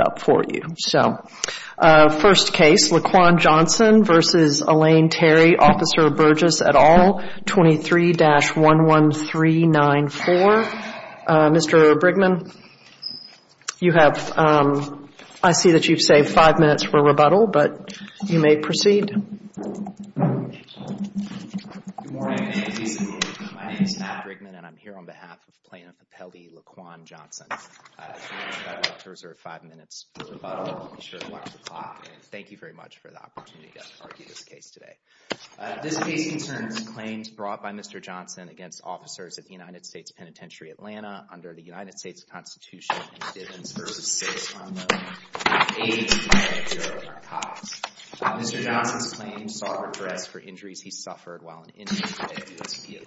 up for you. So, first case, Laquan Johnson v. Elaine Terry, Officer Burgess et al., 23-11394. Mr. Brigman, you have, I see that you've saved five minutes for rebuttal, but you may proceed. My name is Matt Brigman and I'm here on behalf of Plaintiff Appellee Laquan Johnson. I'd like to reserve five minutes for rebuttal. Be sure to watch the clock. And thank you very much for the opportunity to argue this case today. This case concerns claims brought by Mr. Johnson against officers at the United States Penitentiary, Atlanta under the United States Constitution in Divens v. 6 on the page 9 of your archives. Mr. Johnson's claims sought redress for injuries he suffered while in Indian today,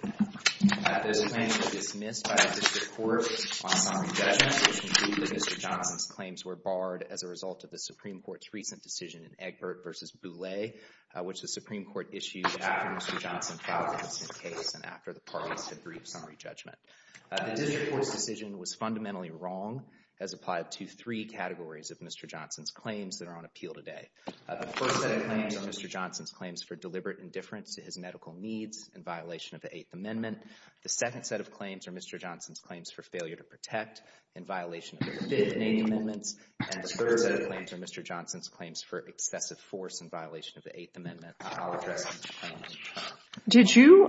Those claims were dismissed by the District Court on summary judgment, which concluded that Mr. Johnson's claims were barred as a result of the Supreme Court's recent decision in Egbert v. Boulay, which the Supreme Court issued after Mr. Johnson filed the missing case and after the parties had briefed summary judgment. The District Court's decision was fundamentally wrong, as applied to three categories of Mr. Johnson's claims that are on appeal today. The first set of claims are Mr. Johnson's claims for deliberate indifference to his medical needs in violation of the Eighth Amendment. The second set of claims are Mr. Johnson's claims for failure to protect in violation of the 15th Amendment. And the third set of claims are Mr. Johnson's claims for excessive force in violation of the Eighth Amendment. I'll address those claims. Did you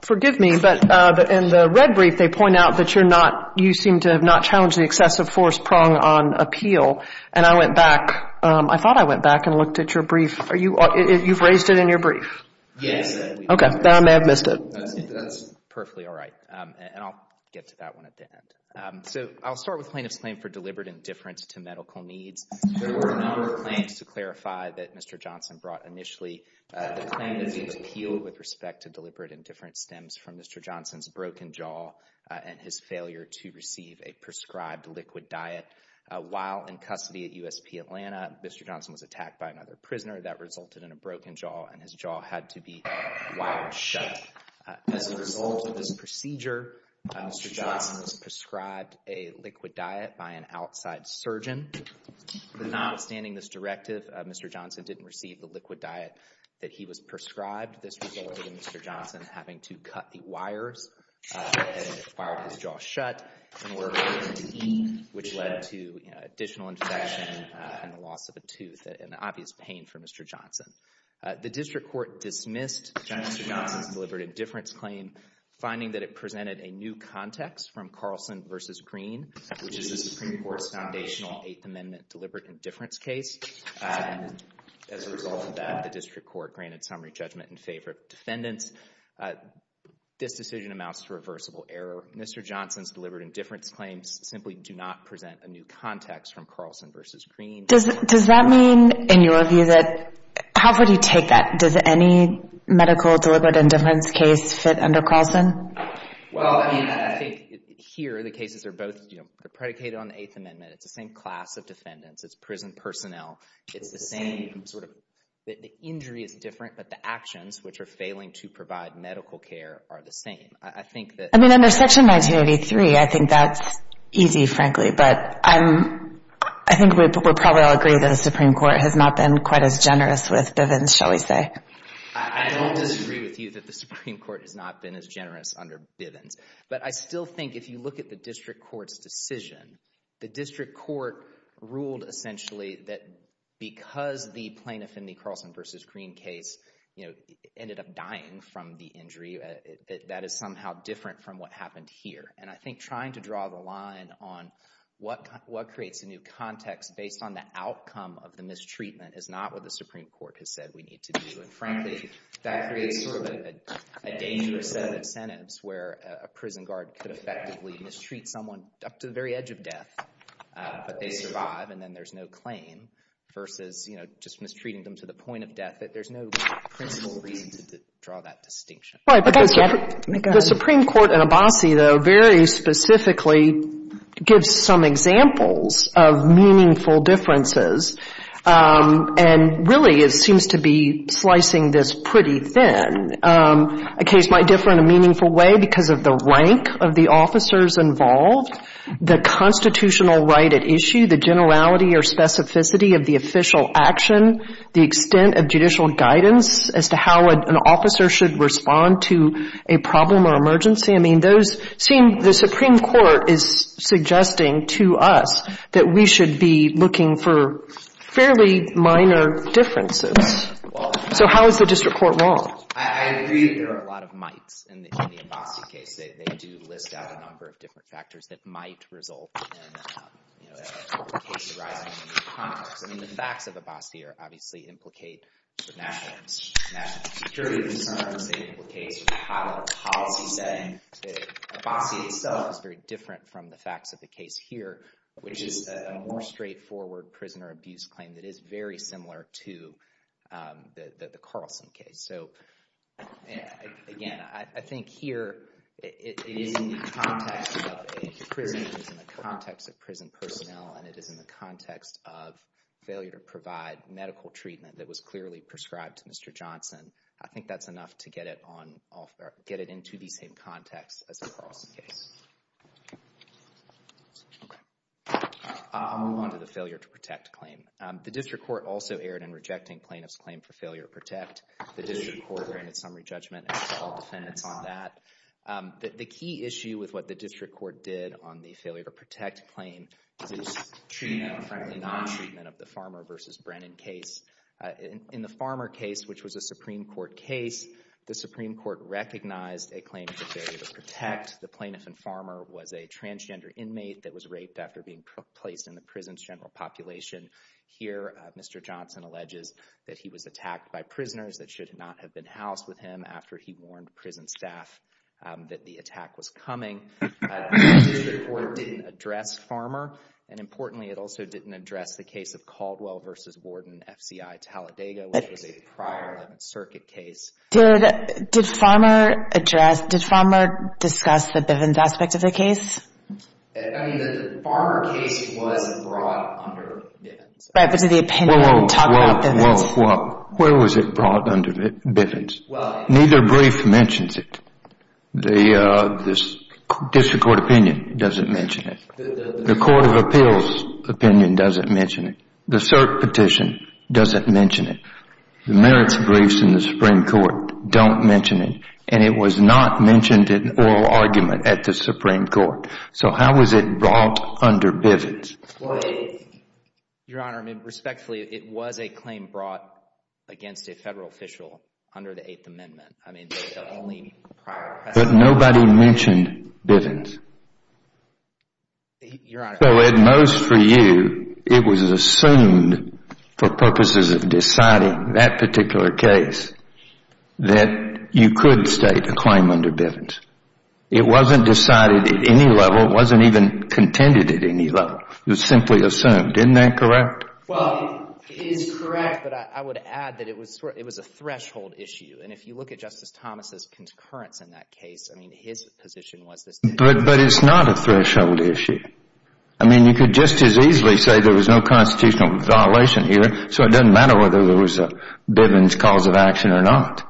– forgive me, but in the red brief, they point out that you're not – you seem to have not challenged the excessive force prong on appeal. And I went back – I thought I went back and looked at your brief. Are you – you've raised it in your brief? Yes. Okay. Then I may have missed it. That's perfectly all right. And I'll get to that one at the end. So I'll start with plaintiff's claim for deliberate indifference to medical needs. There were a number of claims to clarify that Mr. Johnson brought initially. The claim that he appealed with respect to deliberate indifference stems from Mr. Johnson's broken jaw and his failure to receive a prescribed liquid diet. While in custody at USP Atlanta, Mr. Johnson was attacked by another prisoner. That resulted in a broken jaw, and his jaw had to be wired shut. As a result of this procedure, Mr. Johnson was prescribed a liquid diet by an outside surgeon. Notwithstanding this directive, Mr. Johnson didn't receive the liquid diet that he was prescribed. This resulted in Mr. Johnson having to cut the wires that had wired his jaw shut in order for him to eat, which led to additional infection and the loss of a tooth, an obvious pain for Mr. Johnson. The district court dismissed Mr. Johnson's deliberate indifference claim, finding that it presented a new context from Carlson v. Green, which is the Supreme Court's foundational Eighth Amendment deliberate indifference case. As a result of that, the district court granted summary judgment in favor of defendants. This decision amounts to reversible error. Mr. Johnson's deliberate indifference claims simply do not present a new context from Carlson v. Green. Does that mean, in your view, that – how would you take that? Does any medical deliberate indifference case fit under Carlson? Well, I mean, I think here the cases are both predicated on the Eighth Amendment. It's the same class of defendants. It's prison personnel. It's the same sort of – the injury is different, but the actions which are failing to provide medical care are the same. I think that – I mean, under Section 1983, I think that's easy, frankly, but I think we'll probably all agree that the Supreme Court has not been quite as generous with Bivens, shall we say. I don't disagree with you that the Supreme Court has not been as generous under Bivens, but I still think if you look at the district court's decision, the district court ruled essentially that because the plaintiff in the Carlson v. Green case ended up dying from the injury, that is somehow different from what happened here. And I think trying to draw the line on what creates a new context based on the outcome of the mistreatment is not what the Supreme Court has said we need to do. And frankly, that creates sort of a dangerous set of incentives where a prison guard could effectively mistreat someone up to the very edge of death, but they survive, and then there's no claim, versus, you know, just mistreating them to the point of death. There's no principal reason to draw that distinction. The Supreme Court in Abbasi, though, very specifically gives some examples of meaningful differences, and really it seems to be slicing this pretty thin. A case might differ in a meaningful way because of the rank of the officers involved, the constitutional right at issue, the generality or specificity of the official action, the extent of judicial guidance as to how an officer should respond to a problem or emergency. I mean, those seem the Supreme Court is suggesting to us that we should be looking for fairly minor differences. So how is the district court wrong? I agree that there are a lot of mights in the Abbasi case. They do list out a number of different factors that might result in a case arising in a new context. I mean, the facts of Abbasi obviously implicate national security concerns. It implicates a policy setting. Abbasi itself is very different from the facts of the case here, which is a more straightforward prisoner abuse claim that is very similar to the Carlson case. So again, I think here it is in the context of prison personnel, and it is in the context of failure to provide medical treatment that was clearly prescribed to Mr. Johnson. I think that's enough to get it into the same context as the Carlson case. I'll move on to the failure to protect claim. The district court also erred in rejecting plaintiff's claim for failure to protect. The district court granted summary judgment to all defendants on that. The key issue with what the district court did on the failure to protect claim is treatment, frankly, non-treatment of the Farmer v. Brennan case. In the Farmer case, which was a Supreme Court case, the Supreme Court recognized a claim for failure to protect. The plaintiff in Farmer was a transgender inmate that was raped after being placed in the prison's general population. Here, Mr. Johnson alleges that he was attacked by prisoners that should not have been housed with him after he warned prison staff that the attack was coming. The district court didn't address Farmer. And importantly, it also didn't address the case of Caldwell v. Borden, F.C.I. Talladega, which was a prior 11th Circuit case. Did Farmer discuss the Bivens aspect of the case? I mean, the Farmer case was brought under Bivens. Right, but did the opinion talk about Bivens? Where was it brought under Bivens? Neither brief mentions it. The district court opinion doesn't mention it. The court of appeals opinion doesn't mention it. The cert petition doesn't mention it. The merits briefs in the Supreme Court don't mention it. And it was not mentioned in oral argument at the Supreme Court. So how was it brought under Bivens? Your Honor, I mean, respectfully, it was a claim brought against a Federal official under the Eighth Amendment. I mean, the only prior precedent. But nobody mentioned Bivens. Your Honor. So at most for you, it was assumed for purposes of deciding that particular case that you could state a claim under Bivens. It wasn't decided at any level. It wasn't even contended at any level. It was simply assumed. Isn't that correct? Well, it is correct, but I would add that it was a threshold issue. And if you look at Justice Thomas' concurrence in that case, I mean, his position was this. But it's not a threshold issue. I mean, you could just as easily say there was no constitutional violation here, so it doesn't matter whether there was a Bivens cause of action or not.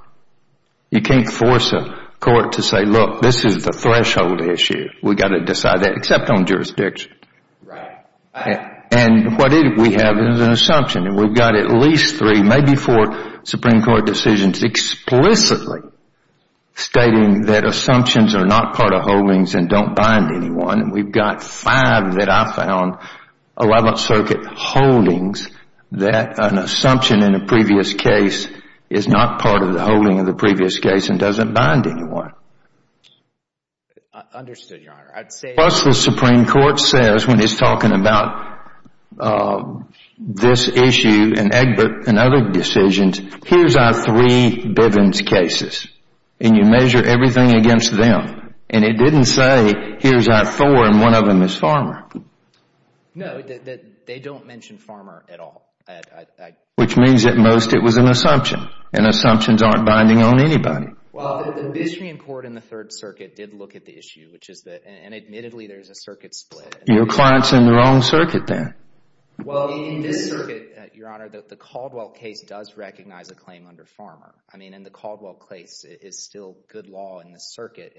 You can't force a court to say, look, this is the threshold issue. We've got to decide that, except on jurisdiction. And what we have is an assumption. And we've got at least three, maybe four, Supreme Court decisions explicitly stating that assumptions are not part of holdings and don't bind anyone. And we've got five that I found, 11th Circuit holdings, that an assumption in a previous case is not part of the holding of the previous case and doesn't bind anyone. Understood, Your Honor. Plus, the Supreme Court says when it's talking about this issue and Egbert and other decisions, here's our three Bivens cases, and you measure everything against them. And it didn't say, here's our four, and one of them is Farmer. No, they don't mention Farmer at all. Which means at most it was an assumption, and assumptions aren't binding on anybody. Well, the Bishopian Court in the Third Circuit did look at the issue, which is that, and admittedly, there's a circuit split. Your client's in the wrong circuit, then. Well, in this circuit, Your Honor, the Caldwell case does recognize a claim under Farmer. I mean, in the Caldwell case, it's still good law in the circuit.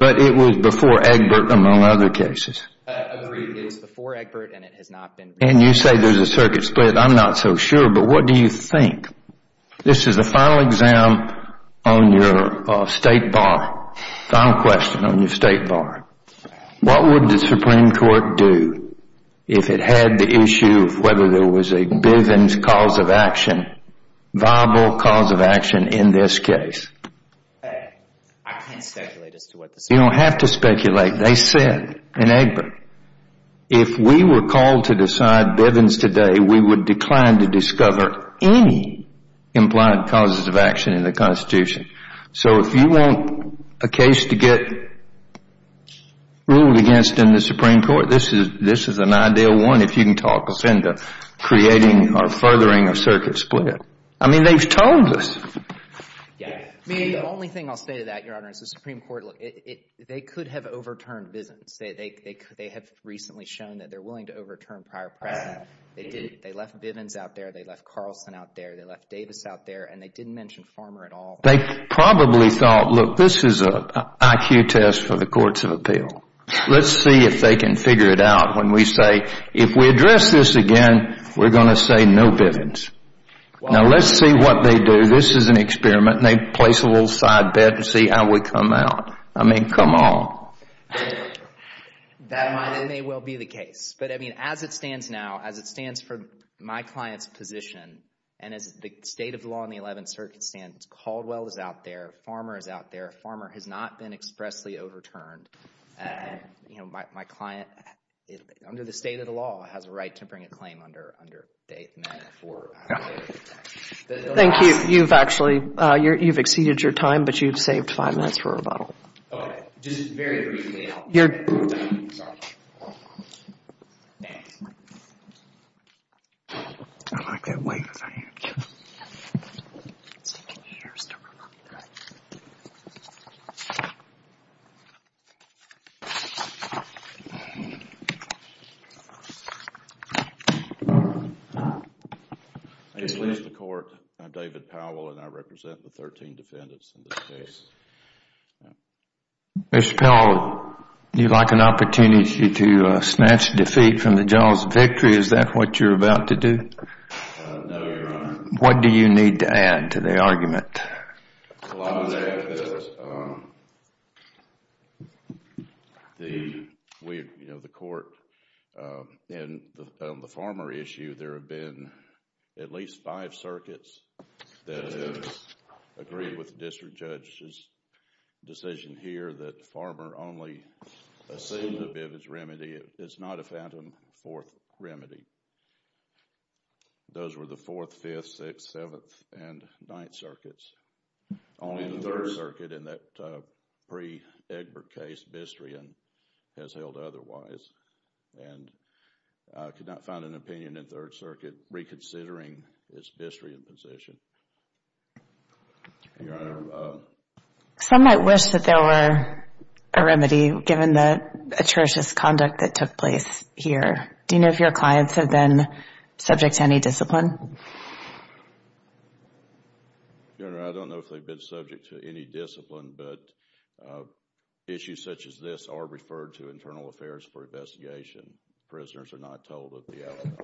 But it was before Egbert, among other cases. Agreed. It was before Egbert, and it has not been. And you say there's a circuit split. I'm not so sure, but what do you think? This is the final exam on your State Bar. Final question on your State Bar. What would the Supreme Court do if it had the issue of whether there was a Bivens cause of action, viable cause of action in this case? I can't speculate as to what the Supreme Court would do. You don't have to speculate. They said in Egbert, if we were called to decide Bivens today, we would decline to discover any implied causes of action in the Constitution. So if you want a case to get ruled against in the Supreme Court, this is an ideal one if you can talk us into creating or furthering a circuit split. I mean, they've told us. The only thing I'll say to that, Your Honor, is the Supreme Court, they could have overturned Bivens. They have recently shown that they're willing to overturn prior precedent. They left Bivens out there. They left Carlson out there. They left Davis out there. And they didn't mention Farmer at all. They probably thought, look, this is an IQ test for the courts of appeal. Let's see if they can figure it out when we say if we address this again, we're going to say no Bivens. Now, let's see what they do. This is an experiment. And they place a little side bet to see how we come out. I mean, come on. That may well be the case. But, I mean, as it stands now, as it stands for my client's position, and as the state of the law in the Eleventh Circuit stands, Caldwell is out there. Farmer is out there. Farmer has not been expressly overturned. My client, under the state of the law, has a right to bring a claim under date for the Eleventh Circuit. Thank you. You've actually, you've exceeded your time, but you've saved five minutes for a rebuttal. Okay. Just very briefly. Your. Sorry. Thanks. I like that way you're saying it. It's taking years to remember. Okay. I just released the court. I'm David Powell, and I represent the 13 defendants in this case. Mr. Powell, do you like an opportunity to snatch defeat from the jaws of victory? Is that what you're about to do? No, Your Honor. What do you need to add to the argument? Well, I would add that the court, in the farmer issue, there have been at least five circuits that have agreed with the district judge's decision here that the farmer only assumed a bivvage remedy. It's not a phantom fourth remedy. Those were the Fourth, Fifth, Sixth, Seventh, and Ninth Circuits. Only the Third Circuit in that pre-Egbert case, Bistrian, has held otherwise. And I could not find an opinion in Third Circuit reconsidering its Bistrian position. Your Honor. Some might wish that there were a remedy given the atrocious conduct that took place here. Do you know if your clients have been subject to any discipline? Your Honor, I don't know if they've been subject to any discipline, but issues such as this are referred to Internal Affairs for investigation. Prisoners are not told of the outcome.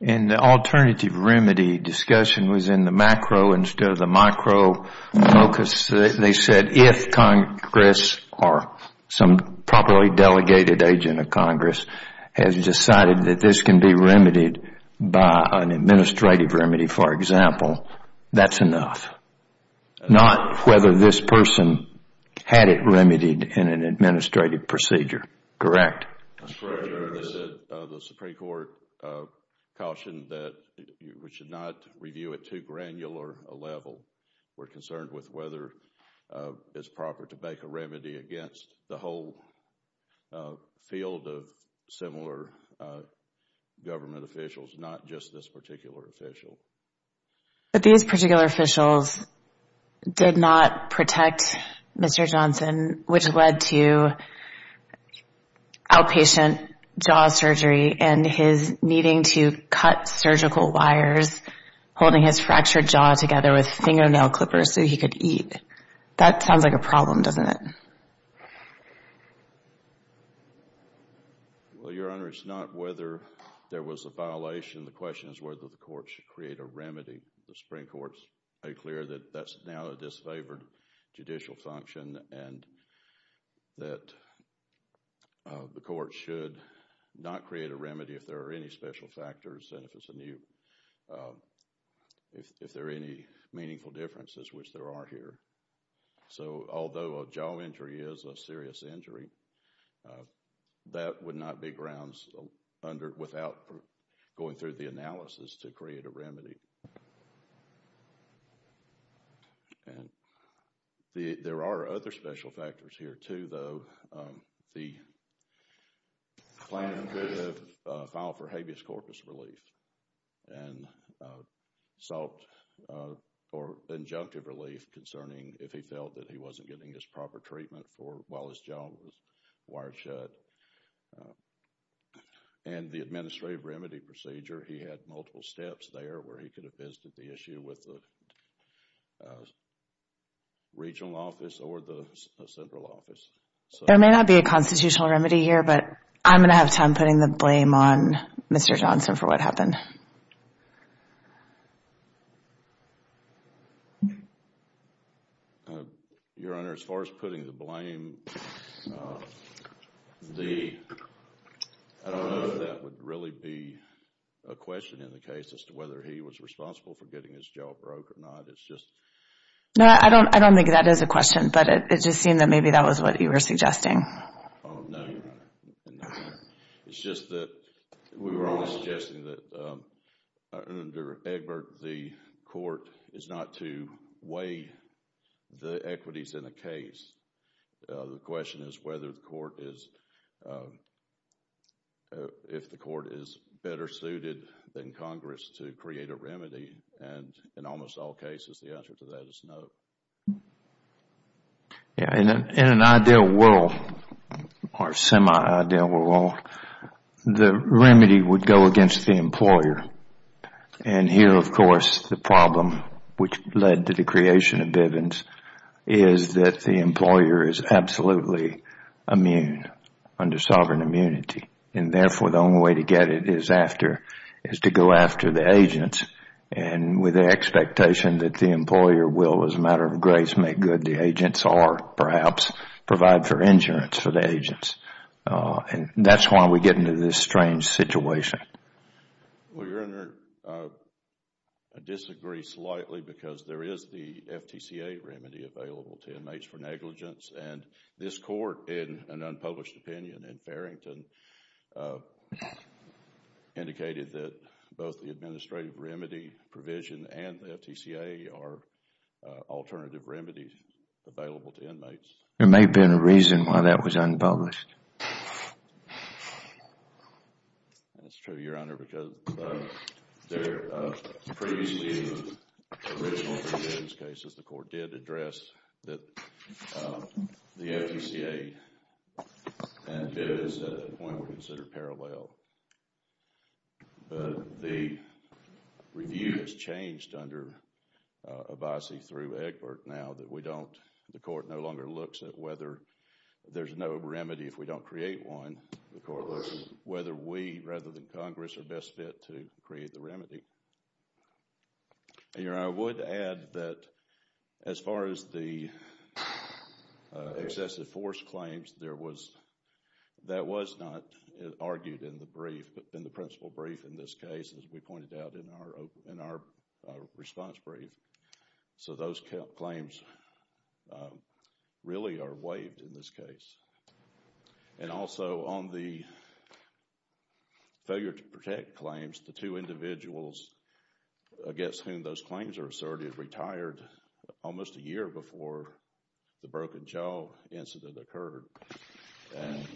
And the alternative remedy discussion was in the macro instead of the micro focus. They said if Congress or some properly delegated agent of Congress has decided that this can be remedied by an administrative remedy, for example, that's enough. Not whether this person had it remedied in an administrative procedure. Correct? That's correct, Your Honor. The Supreme Court cautioned that we should not review it too granular a level. We're concerned with whether it's proper to make a remedy against the whole field of similar government officials, not just this particular official. But these particular officials did not protect Mr. Johnson, which led to outpatient jaw surgery and his needing to cut surgical wires, holding his fractured jaw together with fingernail clippers so he could eat. That sounds like a problem, doesn't it? Well, Your Honor, it's not whether there was a violation. The question is whether the court should create a remedy. The Supreme Court has made clear that that's now a disfavored judicial function and that the court should not create a remedy if there are any special factors and if there are any meaningful differences, which there are here. So although a jaw injury is a serious injury, that would not be grounds without going through the analysis to create a remedy. And there are other special factors here, too, though. The plaintiff filed for habeas corpus relief and sought for injunctive relief concerning if he felt that he wasn't getting his proper treatment while his jaw was wired shut. And the administrative remedy procedure, he had multiple steps there where he could have visited the issue with the regional office or the central office. There may not be a constitutional remedy here, but I'm going to have time putting the blame on Mr. Johnson for what happened. Your Honor, as far as putting the blame, I don't know if that would really be a question in the case as to whether he was responsible for getting his jaw broke or not. No, I don't think that is a question, but it just seemed that maybe that was what you were suggesting. No, Your Honor. It's just that we were only suggesting that under Egbert, the court is not to weigh the equities in a case. The question is whether the court is... if the court is better suited than Congress to create a remedy. And in almost all cases, the answer to that is no. In an ideal world, or semi-ideal world, the remedy would go against the employer. And here, of course, the problem which led to the creation of Bivens is that the employer is absolutely immune, under sovereign immunity. And therefore, the only way to get it is to go after the agents. And with the expectation that the employer will, as a matter of grace, make good the agents, or perhaps provide for insurance for the agents. And that's why we get into this strange situation. Well, Your Honor, I disagree slightly because there is the FTCA remedy available to inmates for negligence. And this court, in an unpublished opinion in Farrington, indicated that both the administrative remedy provision and the FTCA are alternative remedies available to inmates. There may have been a reason why that was unpublished. That's true, Your Honor, because previously in the original Bivens cases, the court did address that the FTCA and Bivens at that point were considered parallel. But the review has changed under Abbasi through Egbert now that we don't, the court no longer looks at whether there's no remedy if we don't create one. The court looks at whether we, rather than Congress, are best fit to create the remedy. Your Honor, I would add that as far as the excessive force claims, that was not argued in the brief, in the principal brief in this case, as we pointed out in our response brief. So those claims really are waived in this case. And also on the failure to protect claims, the two individuals against whom those claims are asserted retired almost a year before the Broken Jaw incident occurred. And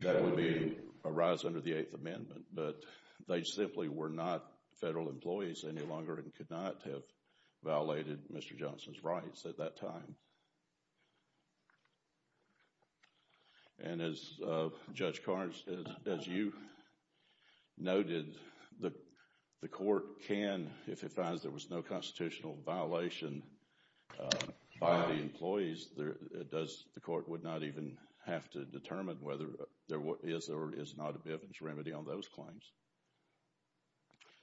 that would be a rise under the Eighth Amendment. But they simply were not federal employees any longer and could not have violated Mr. Johnson's rights at that time. And as Judge Carnes, as you noted, the court can, if it finds there was no constitutional violation by the employees, the court would not even have to determine whether there is or is not a Bivens remedy on those claims.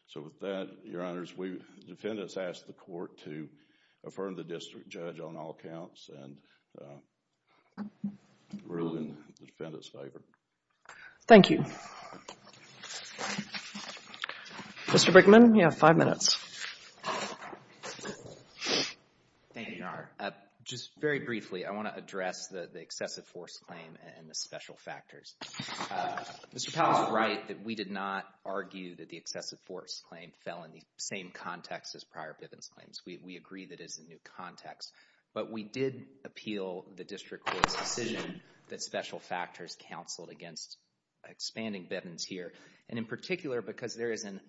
So with that, Your Honors, we, the defendants ask the court to affirm the district judge on all accounts and rule in the defendant's favor. Thank you. Mr. Brickman, you have five minutes. Thank you, Your Honor. Just very briefly, I want to address the excessive force claim and the special factors. Mr. Powell is right that we did not argue that the excessive force claim fell in the same context as prior Bivens claims. We agree that it is a new context. But we did appeal the district court's decision that special factors counseled against expanding Bivens here. And in particular, because there is an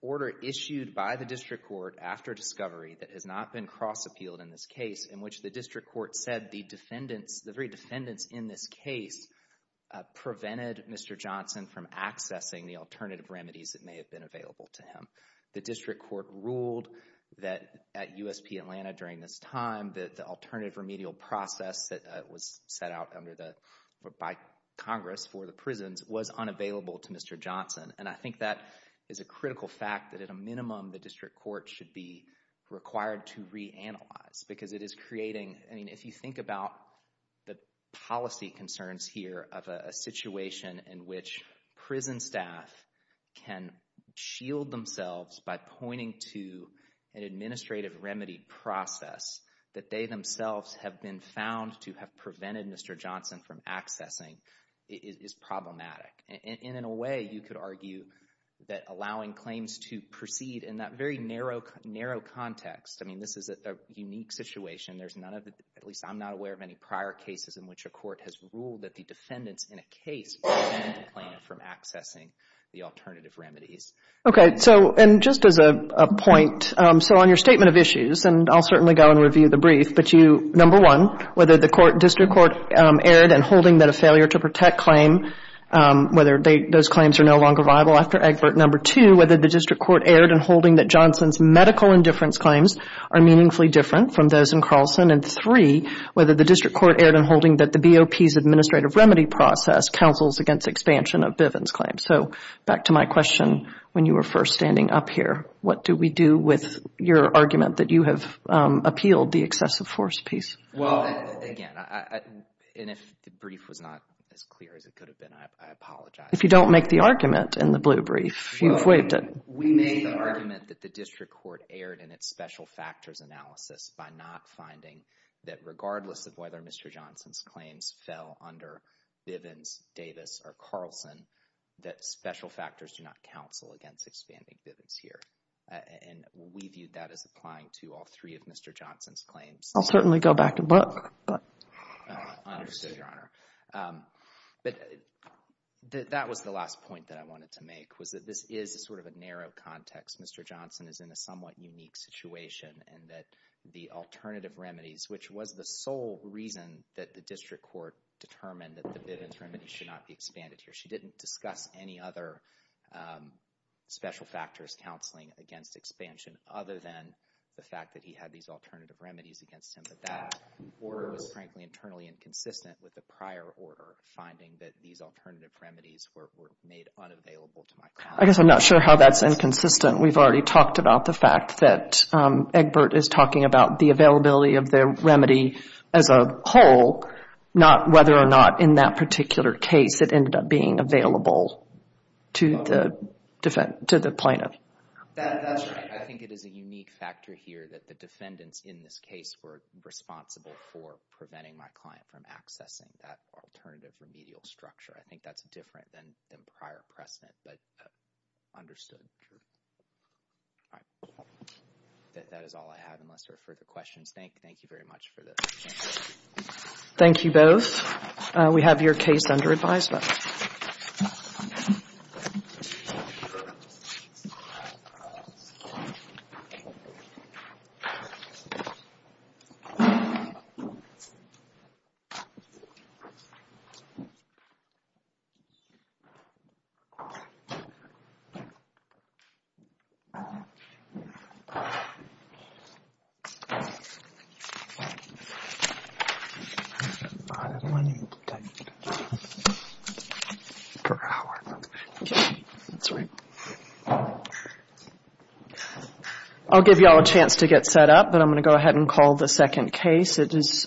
order issued by the district court after discovery that has not been cross-appealed in this case in which the district court said the defendants, the very defendants in this case, prevented Mr. Johnson from accessing the alternative remedies that may have been available to him. The district court ruled that at USP Atlanta during this time that the alternative remedial process that was set out by Congress for the prisons was unavailable to Mr. Johnson. And I think that is a critical fact that at a minimum the district court should be required to reanalyze. Because it is creating, I mean, if you think about the policy concerns here of a situation in which prison staff can shield themselves by pointing to an administrative remedy process that they themselves have been found to have prevented Mr. Johnson from accessing is problematic. And in a way, you could argue that allowing claims to proceed in that very narrow context, I mean, this is a unique situation. There's none of it, at least I'm not aware of any prior cases in which a court has ruled that the defendants in a case prevented the plaintiff from accessing the alternative remedies. Okay. So, and just as a point, so on your statement of issues, and I'll certainly go and review the brief, but you, number one, whether the district court erred in holding that a failure to protect claim, whether those claims are no longer viable after Egbert. Number two, whether the district court erred in holding that Johnson's medical indifference claims are meaningfully different from those in Carlson. And three, whether the district court erred in holding that the BOP's administrative remedy process counsels against expansion of Bivens claims. So, back to my question, when you were first standing up here, what do we do with your argument that you have appealed the excessive force piece? Well, again, and if the brief was not as clear as it could have been, I apologize. If you don't make the argument in the blue brief, you've waived it. We made the argument that the district court erred in its special factors analysis by not finding that regardless of whether Mr. Johnson's claims fell under Bivens, Davis, or Carlson, that special factors do not counsel against expanding Bivens here. And we viewed that as applying to all three of Mr. Johnson's claims. I'll certainly go back to book, but. Understood, Your Honor. But that was the last point that I wanted to make, was that this is sort of a narrow context. Mr. Johnson is in a somewhat unique situation, and that the alternative remedies, which was the sole reason that the district court determined that the Bivens remedies should not be expanded here. She didn't discuss any other special factors counseling against expansion other than the fact that he had these alternative remedies against him. But that order was frankly internally inconsistent with the prior order, finding that these alternative remedies were made unavailable to my client. I guess I'm not sure how that's inconsistent. We've already talked about the fact that Egbert is talking about the availability of the remedy as a whole, not whether or not in that particular case it ended up being available to the plaintiff. That's right. I think it is a unique factor here that the defendants in this case were responsible for preventing my client from accessing that alternative remedial structure. I think that's different than prior precedent, but understood. That is all I have, unless there are further questions. Thank you very much for this. Thank you both. We have your case under advisement. I'll give you all a chance to get set up, but I'm going to go ahead and call the second case.